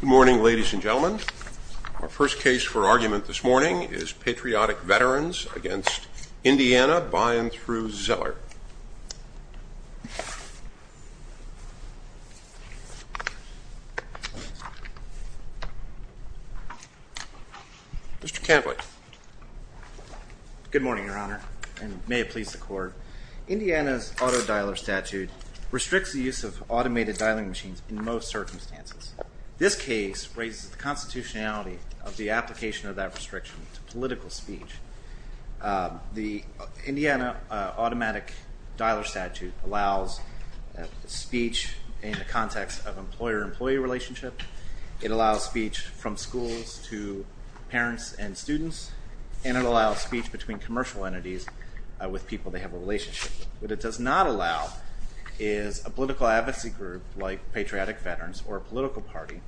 Good morning, ladies and gentlemen. Our first case for argument this morning is Patriotic Veterans against Indiana by and through Zeller. Mr. Cantley. Good morning, your honor, and may it please the court. Indiana's auto dialer statute restricts the use of automated dialing machines in most circumstances. This case raises the constitutionality of the application of that restriction to political speech. The Indiana automatic dialer statute allows speech in the context of employer-employee relationship. It allows speech from schools to parents and students, and it allows speech between commercial entities with people they have a relationship with. What it does not allow is a political advocacy group like Patriotic Veterans or a political party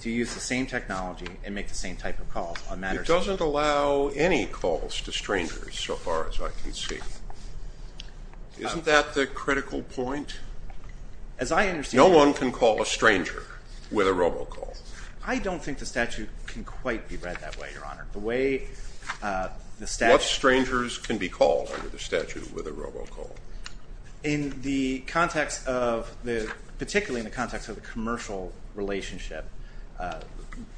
to use the same technology and make the same type of calls. It doesn't allow any calls to strangers so far as I can see. Isn't that the critical point? No one can call a stranger with a robocall. I don't think the statute can quite be read that way, your honor. What strangers can be called? In the context of the, particularly in the context of the commercial relationship,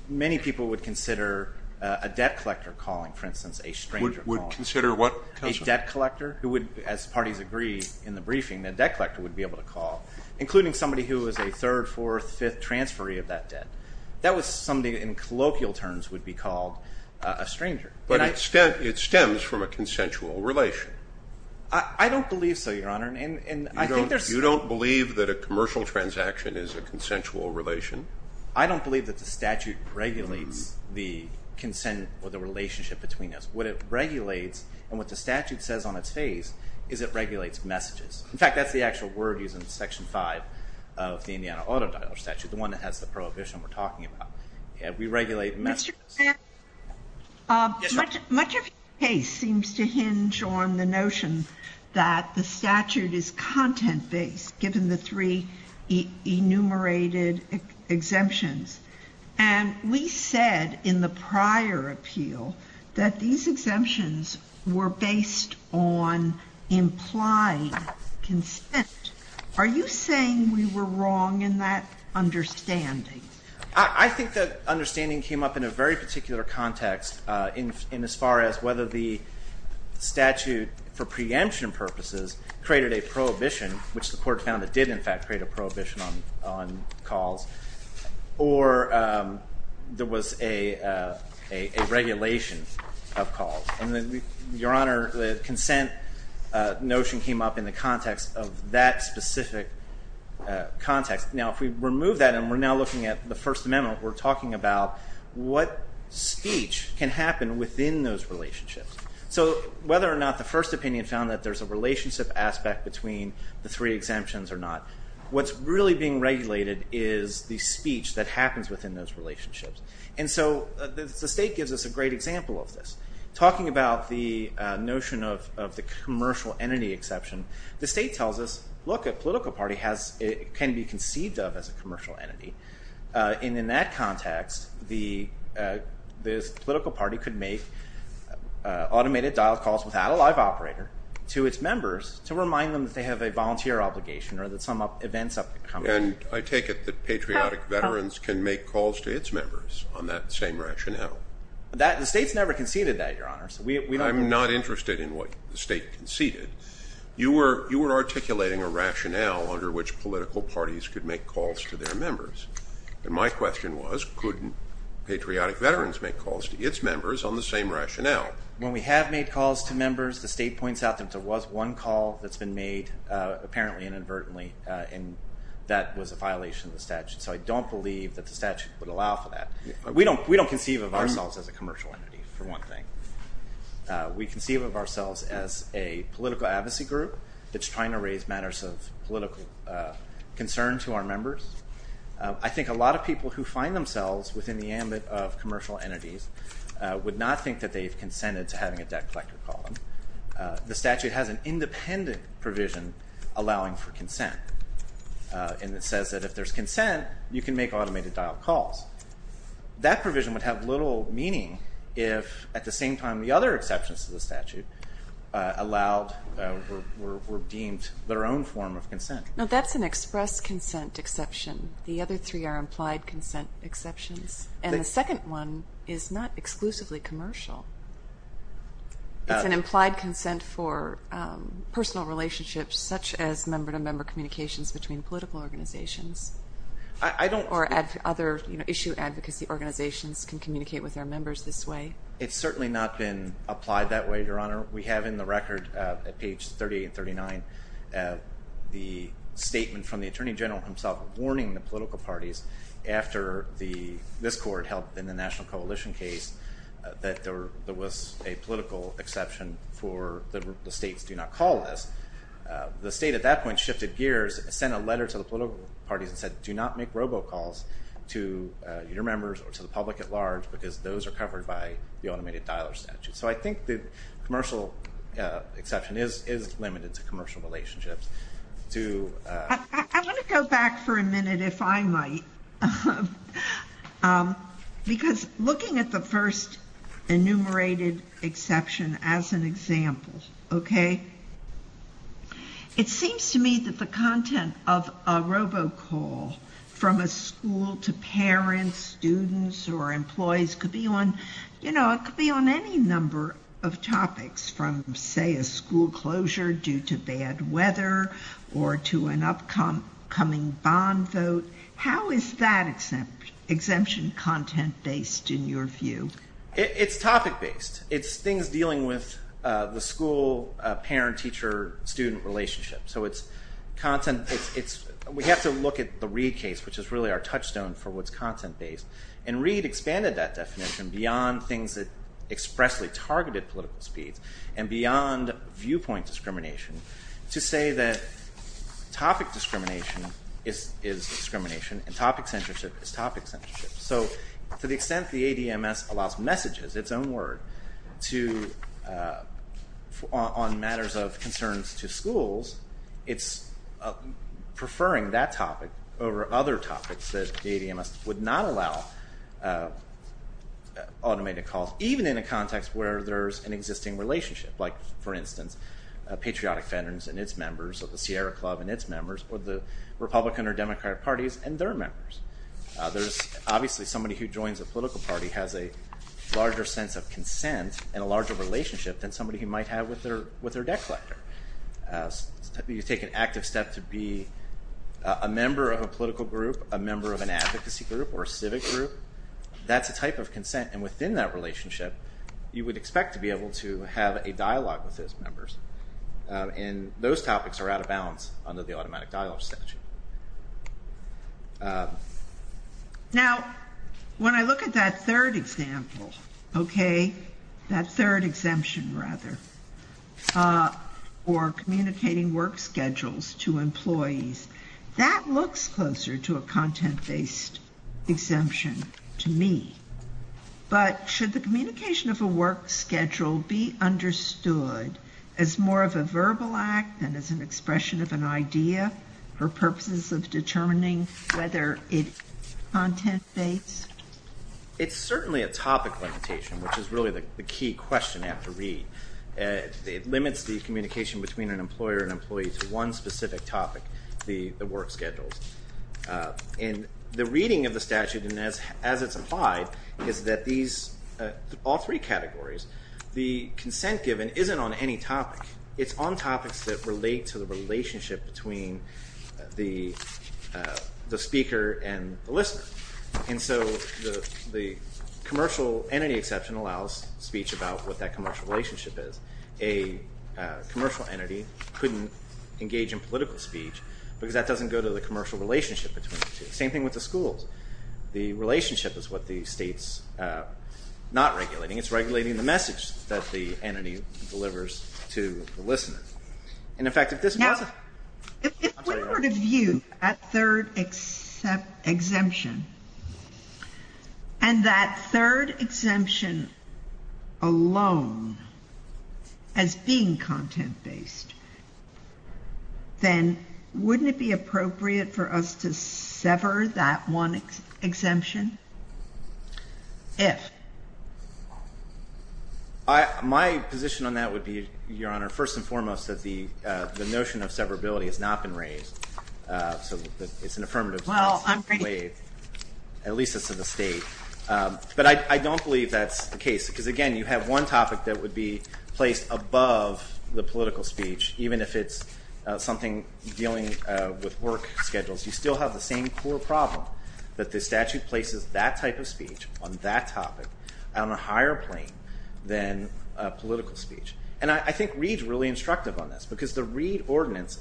many people would consider a debt collector calling, for instance, a stranger calling. Would consider what? A debt collector who would, as parties agree in the briefing, the debt collector would be able to call, including somebody who is a third, fourth, fifth transferee of that debt. That was somebody in colloquial terms would be called a stranger. But it stems from a consensual relation. I don't believe so, your honor. You don't believe that a commercial transaction is a consensual relation? I don't believe that the statute regulates the consent or the relationship between us. What it regulates and what the statute says on its face is it regulates messages. In fact, that's the actual word used in section 5 of the Indiana Auto Dialer statute, the one that has the prohibition we're talking about. We regulate messages. Much of your case seems to hinge on the fact that the statute is content-based, given the three enumerated exemptions. And we said in the prior appeal that these exemptions were based on implied consent. Are you saying we were wrong in that understanding? I, I think that understanding came up in a very particular context in, in as far as whether the statute, for preemption purposes, created a prohibition, which the court found it did in fact create a prohibition on, on calls, or there was a, a regulation of calls. And then, your honor, the consent notion came up in the context of that specific context. Now, if we remove that and we're now looking at the First Amendment, we're talking about what speech can happen within those relationships. So, whether or not the first opinion found that there's a relationship aspect between the three exemptions or not, what's really being regulated is the speech that happens within those relationships. And so, the state gives us a great example of this. Talking about the notion of, of the commercial entity exception, the state tells us, look, a political party has, can be conceived of as a commercial entity. And in that context, the, this political party could make automated dialed calls without a live operator to its members to remind them that they have a volunteer obligation or that some up, events have come up. And I take it that patriotic veterans can make calls to its members on that same rationale. That, the state's never conceded that, your honor. So we, we don't. I'm not interested in what the state conceded. You were, you were articulating a rationale under which political parties could make calls to their members. And my question was, couldn't patriotic veterans make calls to its members on the same rationale? When we have made calls to members, the state points out that there was one call that's been made, apparently and inadvertently, and that was a violation of the statute. So I don't believe that the statute would allow for that. We don't, we don't conceive of ourselves as a commercial entity, for one thing. We conceive of ourselves as a political advocacy group that's trying to raise matters of political concern to our members. I think a lot of people who find themselves within the ambit of would not think that they've consented to having a debt collector call them. The statute has an independent provision allowing for consent. And it says that if there's consent, you can make automated dial calls. That provision would have little meaning if, at the same time, the other exceptions to the statute allowed, were, were deemed their own form of consent. Now that's an express consent exception. The other three are implied consent exceptions. And the second one is not exclusively commercial. It's an implied consent for personal relationships, such as member-to-member communications between political organizations. I, I don't. Or other, you know, issue advocacy organizations can communicate with their members this way. It's certainly not been applied that way, Your Honor. We have in the record, at page 38 and 39, the statement from the Attorney General himself warning the political parties after the, this court held in the National Coalition case that there was a political exception for the states do not call this. The state at that point shifted gears, sent a letter to the political parties and said, do not make robocalls to your members or to the public at large because those are covered by the automated dialer statute. So I think the commercial exception is, is limited to commercial relationships. To I, I want to go back for a minute, if I might. Because looking at the first enumerated exception as an example, okay? It seems to me that the content of a robocall from a school to parents, students, or employees could be on, you know, it could be on any number of topics from, say, a school closure due to bad weather or to an upcoming bond vote. How is that exempt, exemption content based in your view? It, it's topic based. It's things dealing with the school parent, teacher, student relationship. So it's content, it's, it's, we have to look at the Reid case, which is really our touchstone for what's content based. And Reid expanded that definition beyond things that expressly targeted political speeds and beyond viewpoint discrimination to say that topic discrimination is, is discrimination and topic censorship is topic censorship. So to the extent the ADMS allows messages, its own word, to, on matters of concerns to schools, it's preferring that topic over other topics that the ADMS would not allow automated calls, even in a context where there's an existing relationship. Like, for instance, Patriotic Veterans and its members of the Sierra Club and its members or the Republican or Democrat parties and their members. There's obviously somebody who joins a political party has a larger sense of consent and a larger relationship than somebody who might have with their, with their debt collector. You take an active step to be a member of a political group, a member of an advocacy group, or a civic group. That's a type of consent and within that relationship, you would expect to be able to have a dialogue with those members. And those topics are out of bounds under the automatic dialogue statute. Now, when I look at that third example, okay, that third exemption rather, or communicating work schedules to employees, that looks closer to a content based exemption to me. But should the communication of a work schedule be understood as more of a verbal act than as an expression of an idea for purposes of determining whether it's content based? It's certainly a topic limitation, which is really the key question you have to address. It limits the communication between an employer and employee to one specific topic, the work schedules. And the reading of the statute and as it's applied, is that these, all three categories, the consent given isn't on any topic. It's on topics that relate to the relationship between the speaker and the listener. And so the commercial entity exception allows speech about what that commercial relationship is. A commercial entity couldn't engage in political speech because that doesn't go to the commercial relationship between the two. Same thing with the schools. The relationship is what the state's not regulating. It's regulating the message that the entity delivers to the listener. And in fact, if this was a... If we view that third exemption and that third exemption alone as being content based, then wouldn't it be appropriate for us to sever that one exemption? If? My position on that would be, Your Honor, first and foremost, that the notion of it's an affirmative... Well, I'm pretty... At least it's to the state. But I don't believe that's the case. Because again, you have one topic that would be placed above the political speech, even if it's something dealing with work schedules. You still have the same core problem, that the statute places that type of speech on that topic on a higher plane than political speech. And I think Reid's really instructive on this, because the Reid ordinance,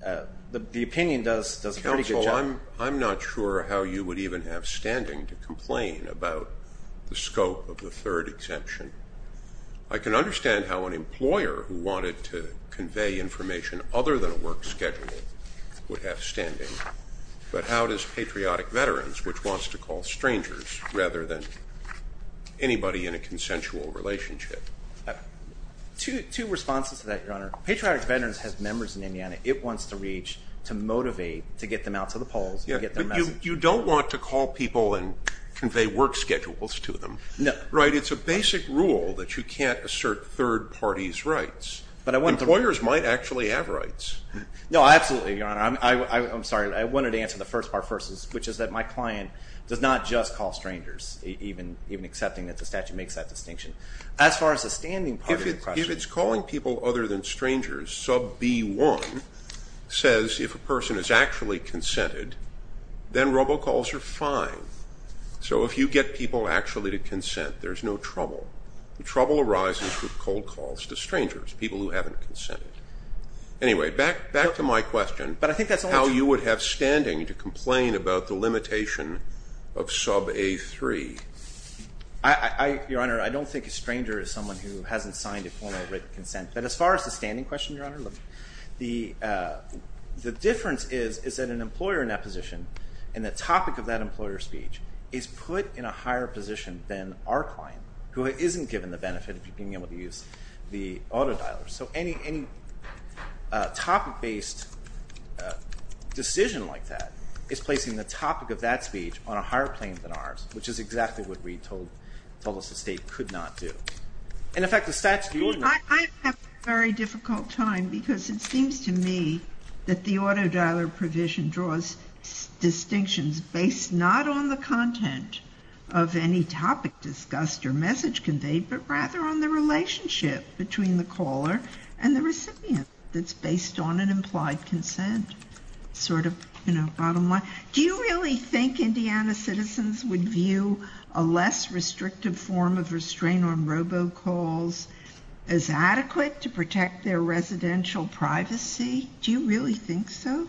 the opinion does a pretty good job. Counsel, I'm not sure how you would even have standing to complain about the scope of the third exemption. I can understand how an employer who wanted to convey information other than a work schedule would have standing, but how does patriotic veterans, which wants to call strangers rather than anybody in a consensual relationship? Two responses to that, Your Honor. Patriotic veterans has members in Indiana it wants to reach to motivate, to get them out to the polls. You don't want to call people and convey work schedules to them. No. Right? It's a basic rule that you can't assert third parties' rights. Employers might actually have rights. No, absolutely, Your Honor. I'm sorry, I wanted to answer the first part first, which is that my even accepting that the statute makes that distinction. As far as the standing part of the question. If it's calling people other than strangers, sub B1 says if a person is actually consented, then robocalls are fine. So if you get people actually to consent, there's no trouble. The trouble arises with cold calls to strangers, people who haven't consented. Anyway, back to my question. But I think that's how you would have standing to complain about the limitation of sub A3. I, Your Honor, I don't think a stranger is someone who hasn't signed a formal written consent. But as far as the standing question, Your Honor, look, the difference is that an employer in that position and the topic of that employer's speech is put in a higher position than our client, who isn't given the benefit of being able to use the auto dialer. So any topic based decision like that is placing the topic of that speech on a higher plane than ours, which is exactly what Reed told us the state could not do. And in fact, the statute, Your Honor. I have a very difficult time because it seems to me that the auto dialer provision draws distinctions based not on the content of any topic discussed or message conveyed, but rather on the relationship between the caller and the recipient that's based on an implied consent, sort of, you know, bottom line. Do you really think Indiana citizens would view a less restrictive form of restraint on robo calls as adequate to protect their residential privacy? Do you really think so?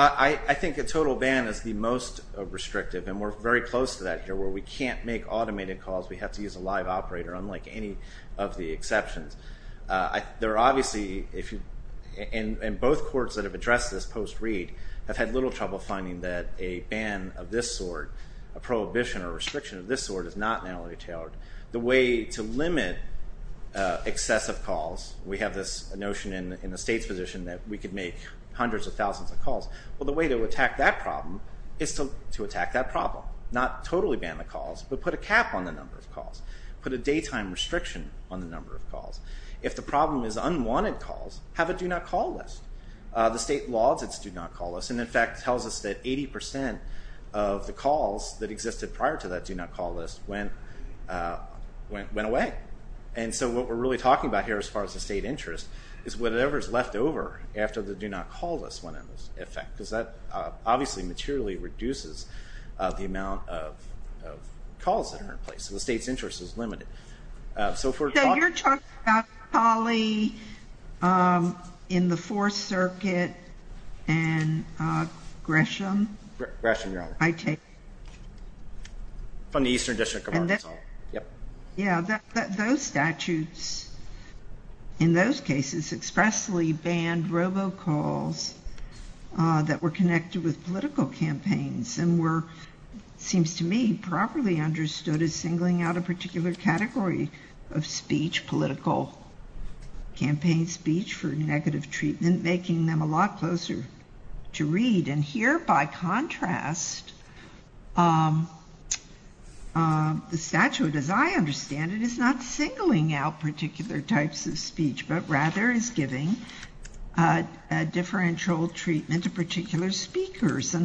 I think a total ban is the most restrictive, and we're very close to that here, where we can't make automated calls. We have to use a live operator, unlike any of the exceptions. There are obviously, if you, and both courts that have addressed this post-Reed, have had little trouble finding that a ban of this sort, a prohibition or restriction of this sort, is not narrowly tailored. The way to limit excessive calls, we have this notion in the state's position that we could make hundreds of thousands of calls. Well, the way to attack that problem is to attack that problem, not totally ban the calls, but put a cap on the number of calls, put a daytime restriction on the number of calls. If the problem is unwanted calls, have a do-not-call list. The state lauds its do-not-call list, and in fact tells us that 80% of the calls that existed prior to that do-not-call list went away. And so what we're really talking about here, as far as the state interest, is whatever is left over after the do-not-call list went into effect, because that obviously materially reduces the state's interest is limited. So you're talking about Polly in the Fourth Circuit and Gresham? Gresham, your honor. I take it. From the Eastern District of Arkansas. Yeah, those statutes, in those cases, expressly banned robocalls that were connected with political campaigns, and were, seems to me, properly understood as singling out a particular category of speech, political campaign speech for negative treatment, making them a lot closer to read. And here, by contrast, the statute, as I understand it, is not singling out particular types of speech, but rather is giving a differential treatment to particular speakers, in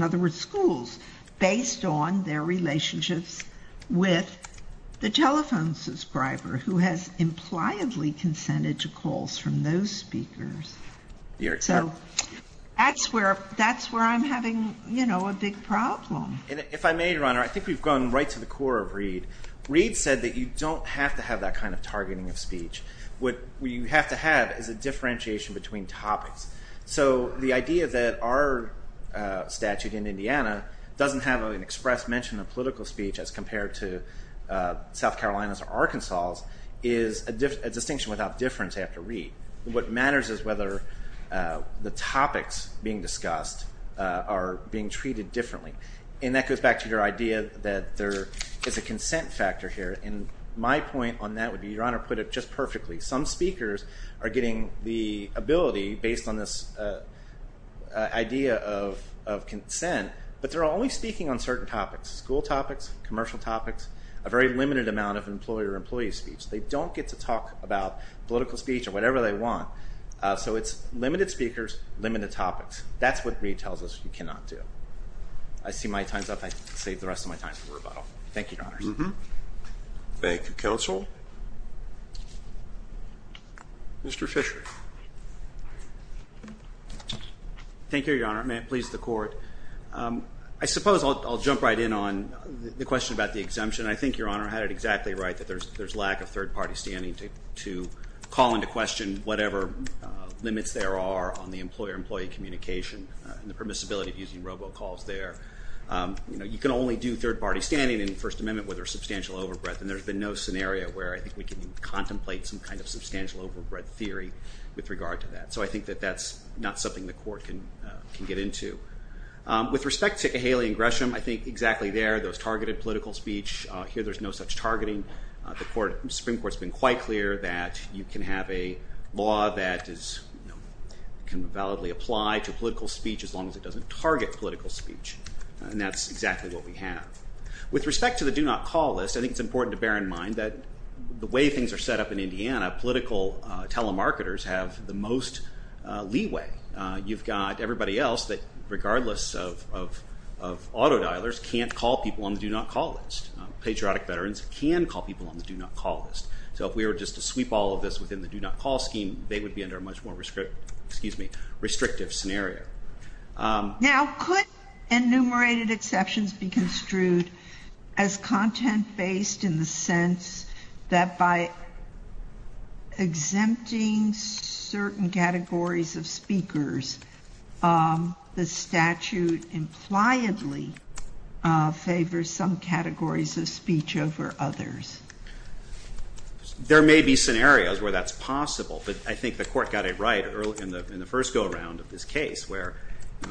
the telephone subscriber, who has impliedly consented to calls from those speakers. So that's where I'm having, you know, a big problem. If I may, your honor, I think we've gone right to the core of Reed. Reed said that you don't have to have that kind of targeting of speech. What you have to have is a differentiation between topics. So the idea that our statute in Indiana doesn't have an express mention of political speech, as compared to South Carolina's or Arkansas's, is a distinction without difference after Reed. What matters is whether the topics being discussed are being treated differently. And that goes back to your idea that there is a consent factor here, and my point on that would be, your honor put it just perfectly, some speakers are getting the ability, based on this idea of consent, but they're only speaking on certain topics. School topics, commercial topics, a very limited amount of employer-employee speech. They don't get to talk about political speech or whatever they want. So it's limited speakers, limited topics. That's what Reed tells us you cannot do. I see my time's up. I save the rest of my time for Richard. Thank you, your honor. May it please the court. I suppose I'll jump right in on the question about the exemption. I think your honor had it exactly right, that there's lack of third-party standing to call into question whatever limits there are on the employer-employee communication and the permissibility of using robocalls there. You know, you can only do third-party standing in the First Amendment where there's substantial overbreadth, and there's been theory with regard to that. So I think that that's not something the court can can get into. With respect to Haley and Gresham, I think exactly there, those targeted political speech, here there's no such targeting. The Supreme Court's been quite clear that you can have a law that can validly apply to political speech as long as it doesn't target political speech, and that's exactly what we have. With respect to the do not call list, I think it's important to bear in mind that the way things are set up in Indiana, political telemarketers have the most leeway. You've got everybody else that, regardless of auto dialers, can't call people on the do not call list. Patriotic veterans can call people on the do not call list. So if we were just to sweep all of this within the do not call scheme, they would be under a much more restrictive scenario. Now could enumerated exceptions be in the sense that by exempting certain categories of speakers, the statute impliedly favors some categories of speech over others? There may be scenarios where that's possible, but I think the court got it right early in the first go-around of this case, where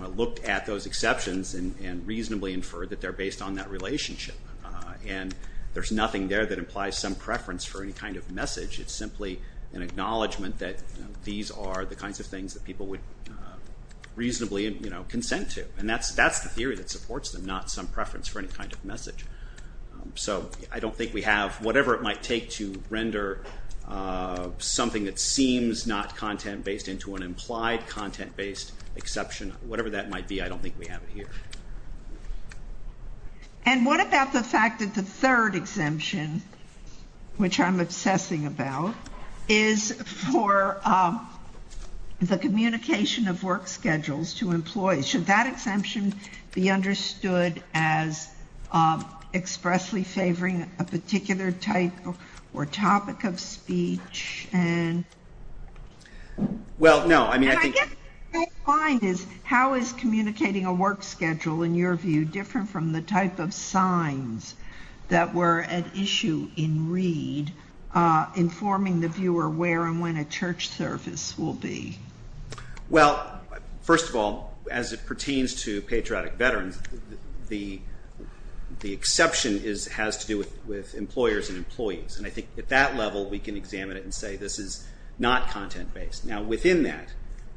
I looked at those exceptions and reasonably inferred that they're based on that relationship, and there's nothing there that implies some preference for any kind of message. It's simply an acknowledgment that these are the kinds of things that people would reasonably consent to, and that's the theory that supports them, not some preference for any kind of message. So I don't think we have, whatever it might take to render something that seems not content-based into an implied content-based exception, whatever that might be, I don't think we have it here. And what about the fact that the third exemption, which I'm obsessing about, is for the communication of work schedules to employees? Should that exemption be understood as expressly favoring a particular type or topic of speech and... Well, first of all, as it pertains to patriotic veterans, the exception has to do with employers and employees, and I think at that level we can examine it and say this is not content-based. Now, within that,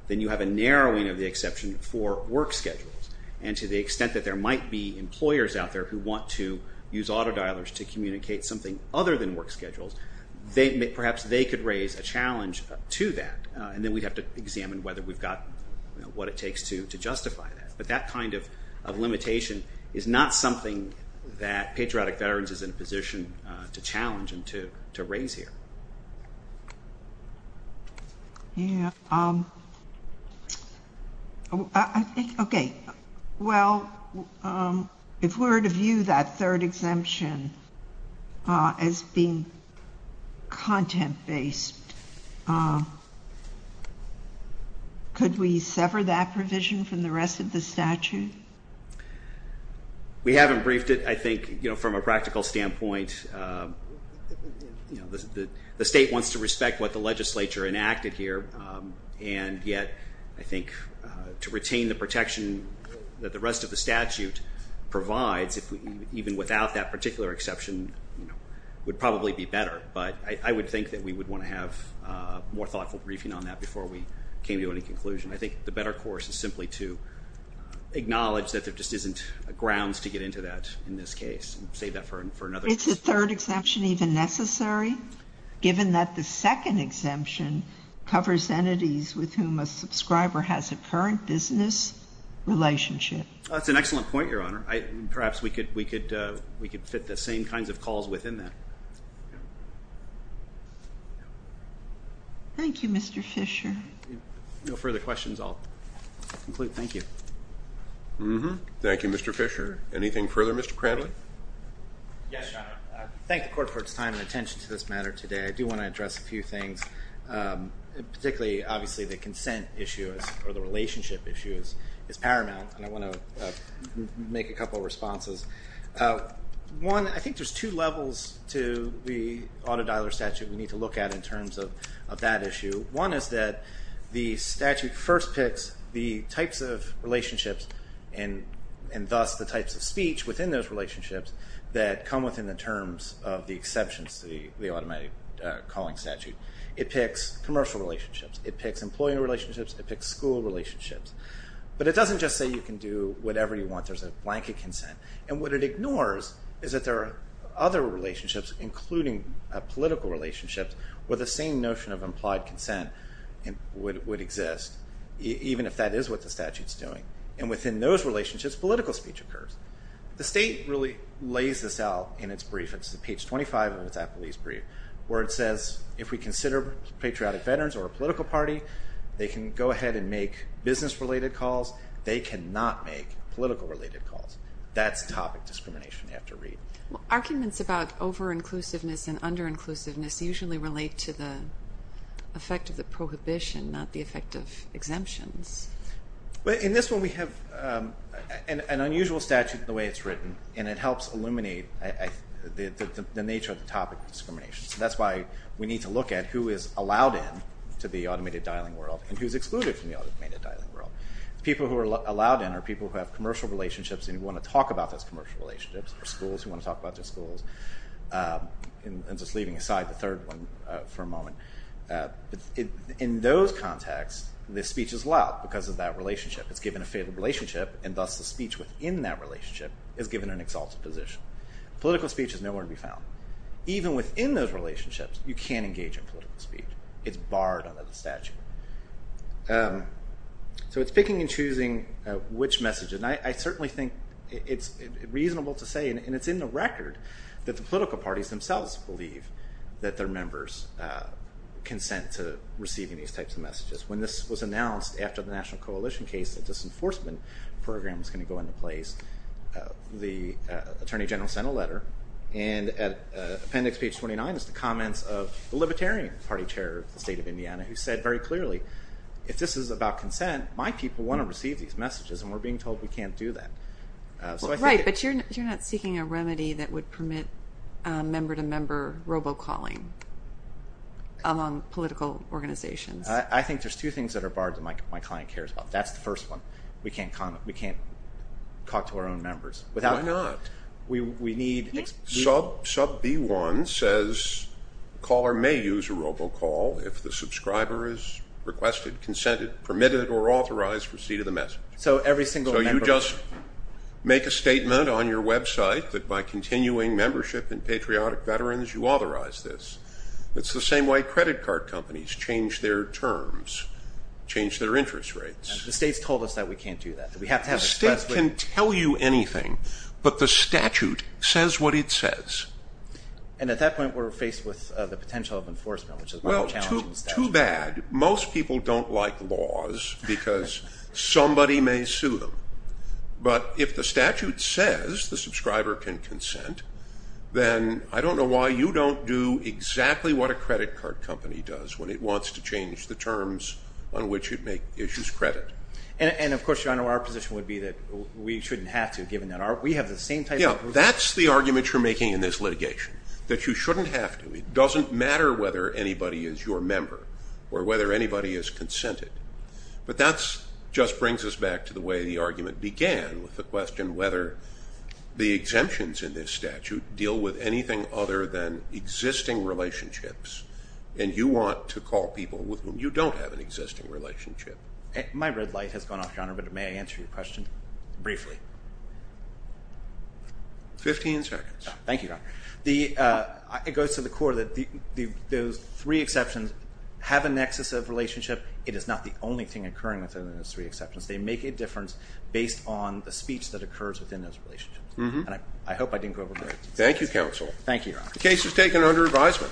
then you have a narrowing of the exception for work schedules, and to the extent that it's not content-based, then you have the extent that there might be employers out there who want to use auto-dialers to communicate something other than work schedules, perhaps they could raise a challenge to that, and then we'd have to examine whether we've got what it takes to justify that. But that kind of limitation is not something that patriotic veterans is in a position to challenge and to raise here. Yeah. Okay. Well, if we were to view that third exemption as being content-based, could we sever that provision from the rest of the statute? We haven't briefed it, I think, from a practical standpoint. The state wants to respect what the legislature enacted here, and yet I think to retain the protection that the rest of the statute provides, even without that particular exception, would probably be better. But I would think that we would want to have more thoughtful briefing on that before we came to any conclusion. I think the better course is simply to acknowledge that there just isn't grounds to get into that in this case and save that for another. Is the third exemption even necessary, given that the second exemption covers entities with whom a subscriber has a current business relationship? That's an excellent point, Your Honor. Perhaps we could fit the same kinds of calls within that. Thank you, Mr. Fisher. If there are no further questions, I'll conclude. Thank you. Thank you, Mr. Fisher. Anything further, Mr. Cranley? Yes, Your Honor. I thank the Court for its time and attention to this matter today. I do want to address a few things, particularly, obviously, the consent issue or the relationship issue is paramount, and I want to make a couple of responses. One, I think there's two levels to the auto-dialer statute we need to look at in terms of that issue. One is that the statute first picks the types of relationships and thus the types of speech within those relationships that come within the terms of the exceptions to the automatic calling statute. It picks commercial relationships. It picks employee relationships. It picks school relationships. But it doesn't just say you can do whatever you want. There's a blanket consent. And what it ignores is that there are other relationships, including political relationships, where the same notion of implied consent would exist, even if that is what the statute's doing. And within those relationships, political speech occurs. The state really lays this out in its brief. It's page 25 of its Applebee's brief, where it says if we consider patriotic veterans or a political party, they can go ahead and make business-related calls. They cannot make political-related calls. That's topic discrimination you have to read. Well, arguments about over-inclusiveness and under-inclusiveness usually relate to the effect of the prohibition, not the effect of exemptions. Well, in this one we have an unusual statute the way it's written, and it helps illuminate the nature of the topic of discrimination. That's why we need to look at who is allowed in to the automated dialing world and who's excluded from the automated dialing world. The people who are allowed in are people who have commercial relationships and who want to talk about those commercial relationships, or schools who want to talk about their schools. And just leaving aside the third one for a moment, in those contexts, the speech is allowed because of that relationship. It's given a favorable relationship, and thus the speech within that relationship is given an exalted position. Political speech is nowhere to be found. Even within those relationships, you can't engage in political speech. It's barred under the statute. So it's picking and choosing which message, and I certainly think it's reasonable to say, and it's in the record, that the political parties themselves believe that their members consent to receiving these types of messages. When this was announced after the National Coalition case, the disenforcement program was going to go into place, the Attorney General sent a letter, and at appendix page 29 is the comments of the Libertarian Party Chair of the state of Indiana, who said very clearly, if this is about consent, my people want to receive these messages, and we're being told we can't do that. Right, but you're not seeking a remedy that would permit member-to-member robocalling among political organizations. I think there's two things that are barred that my client cares about. That's the first one. We can't talk to our own members. Why not? Sub B1 says a caller may use a robocall if the subscriber has requested, consented, permitted, or authorized receipt of the message. So every single member... So you just make a statement on your website that by continuing membership in Patriotic Veterans, you authorize this. It's the same way credit card companies change their terms, change their interest rates. The state's told us that we can't do that. The state can tell you anything, but the statute says what it says. And at that point, we're faced with the potential of enforcement, which is why we're challenging the statute. Well, too bad. Most people don't like laws because somebody may sue them. But if the statute says the subscriber can consent, then I don't know why you don't do exactly what a credit card company does when it wants to change the terms on which it makes its credit. And, of course, Your Honor, our position would be that we shouldn't have to, given that we have the same type of... Yeah, that's the argument you're making in this litigation, that you shouldn't have to. It doesn't matter whether anybody is your member or whether anybody is consented. But that just brings us back to the way the argument began with the question whether the exemptions in this statute deal with anything other than existing relationships, and you want to call people with whom you don't have an existing relationship. My red light has gone off, Your Honor, but may I answer your question briefly? Fifteen seconds. Thank you, Your Honor. It goes to the core that those three exceptions have a nexus of relationship. It is not the only thing occurring within those three exceptions. They make a difference based on the speech that occurs within those relationships. And I hope I didn't go over my words. Thank you, counsel. Thank you, Your Honor. The case is taken under advisement.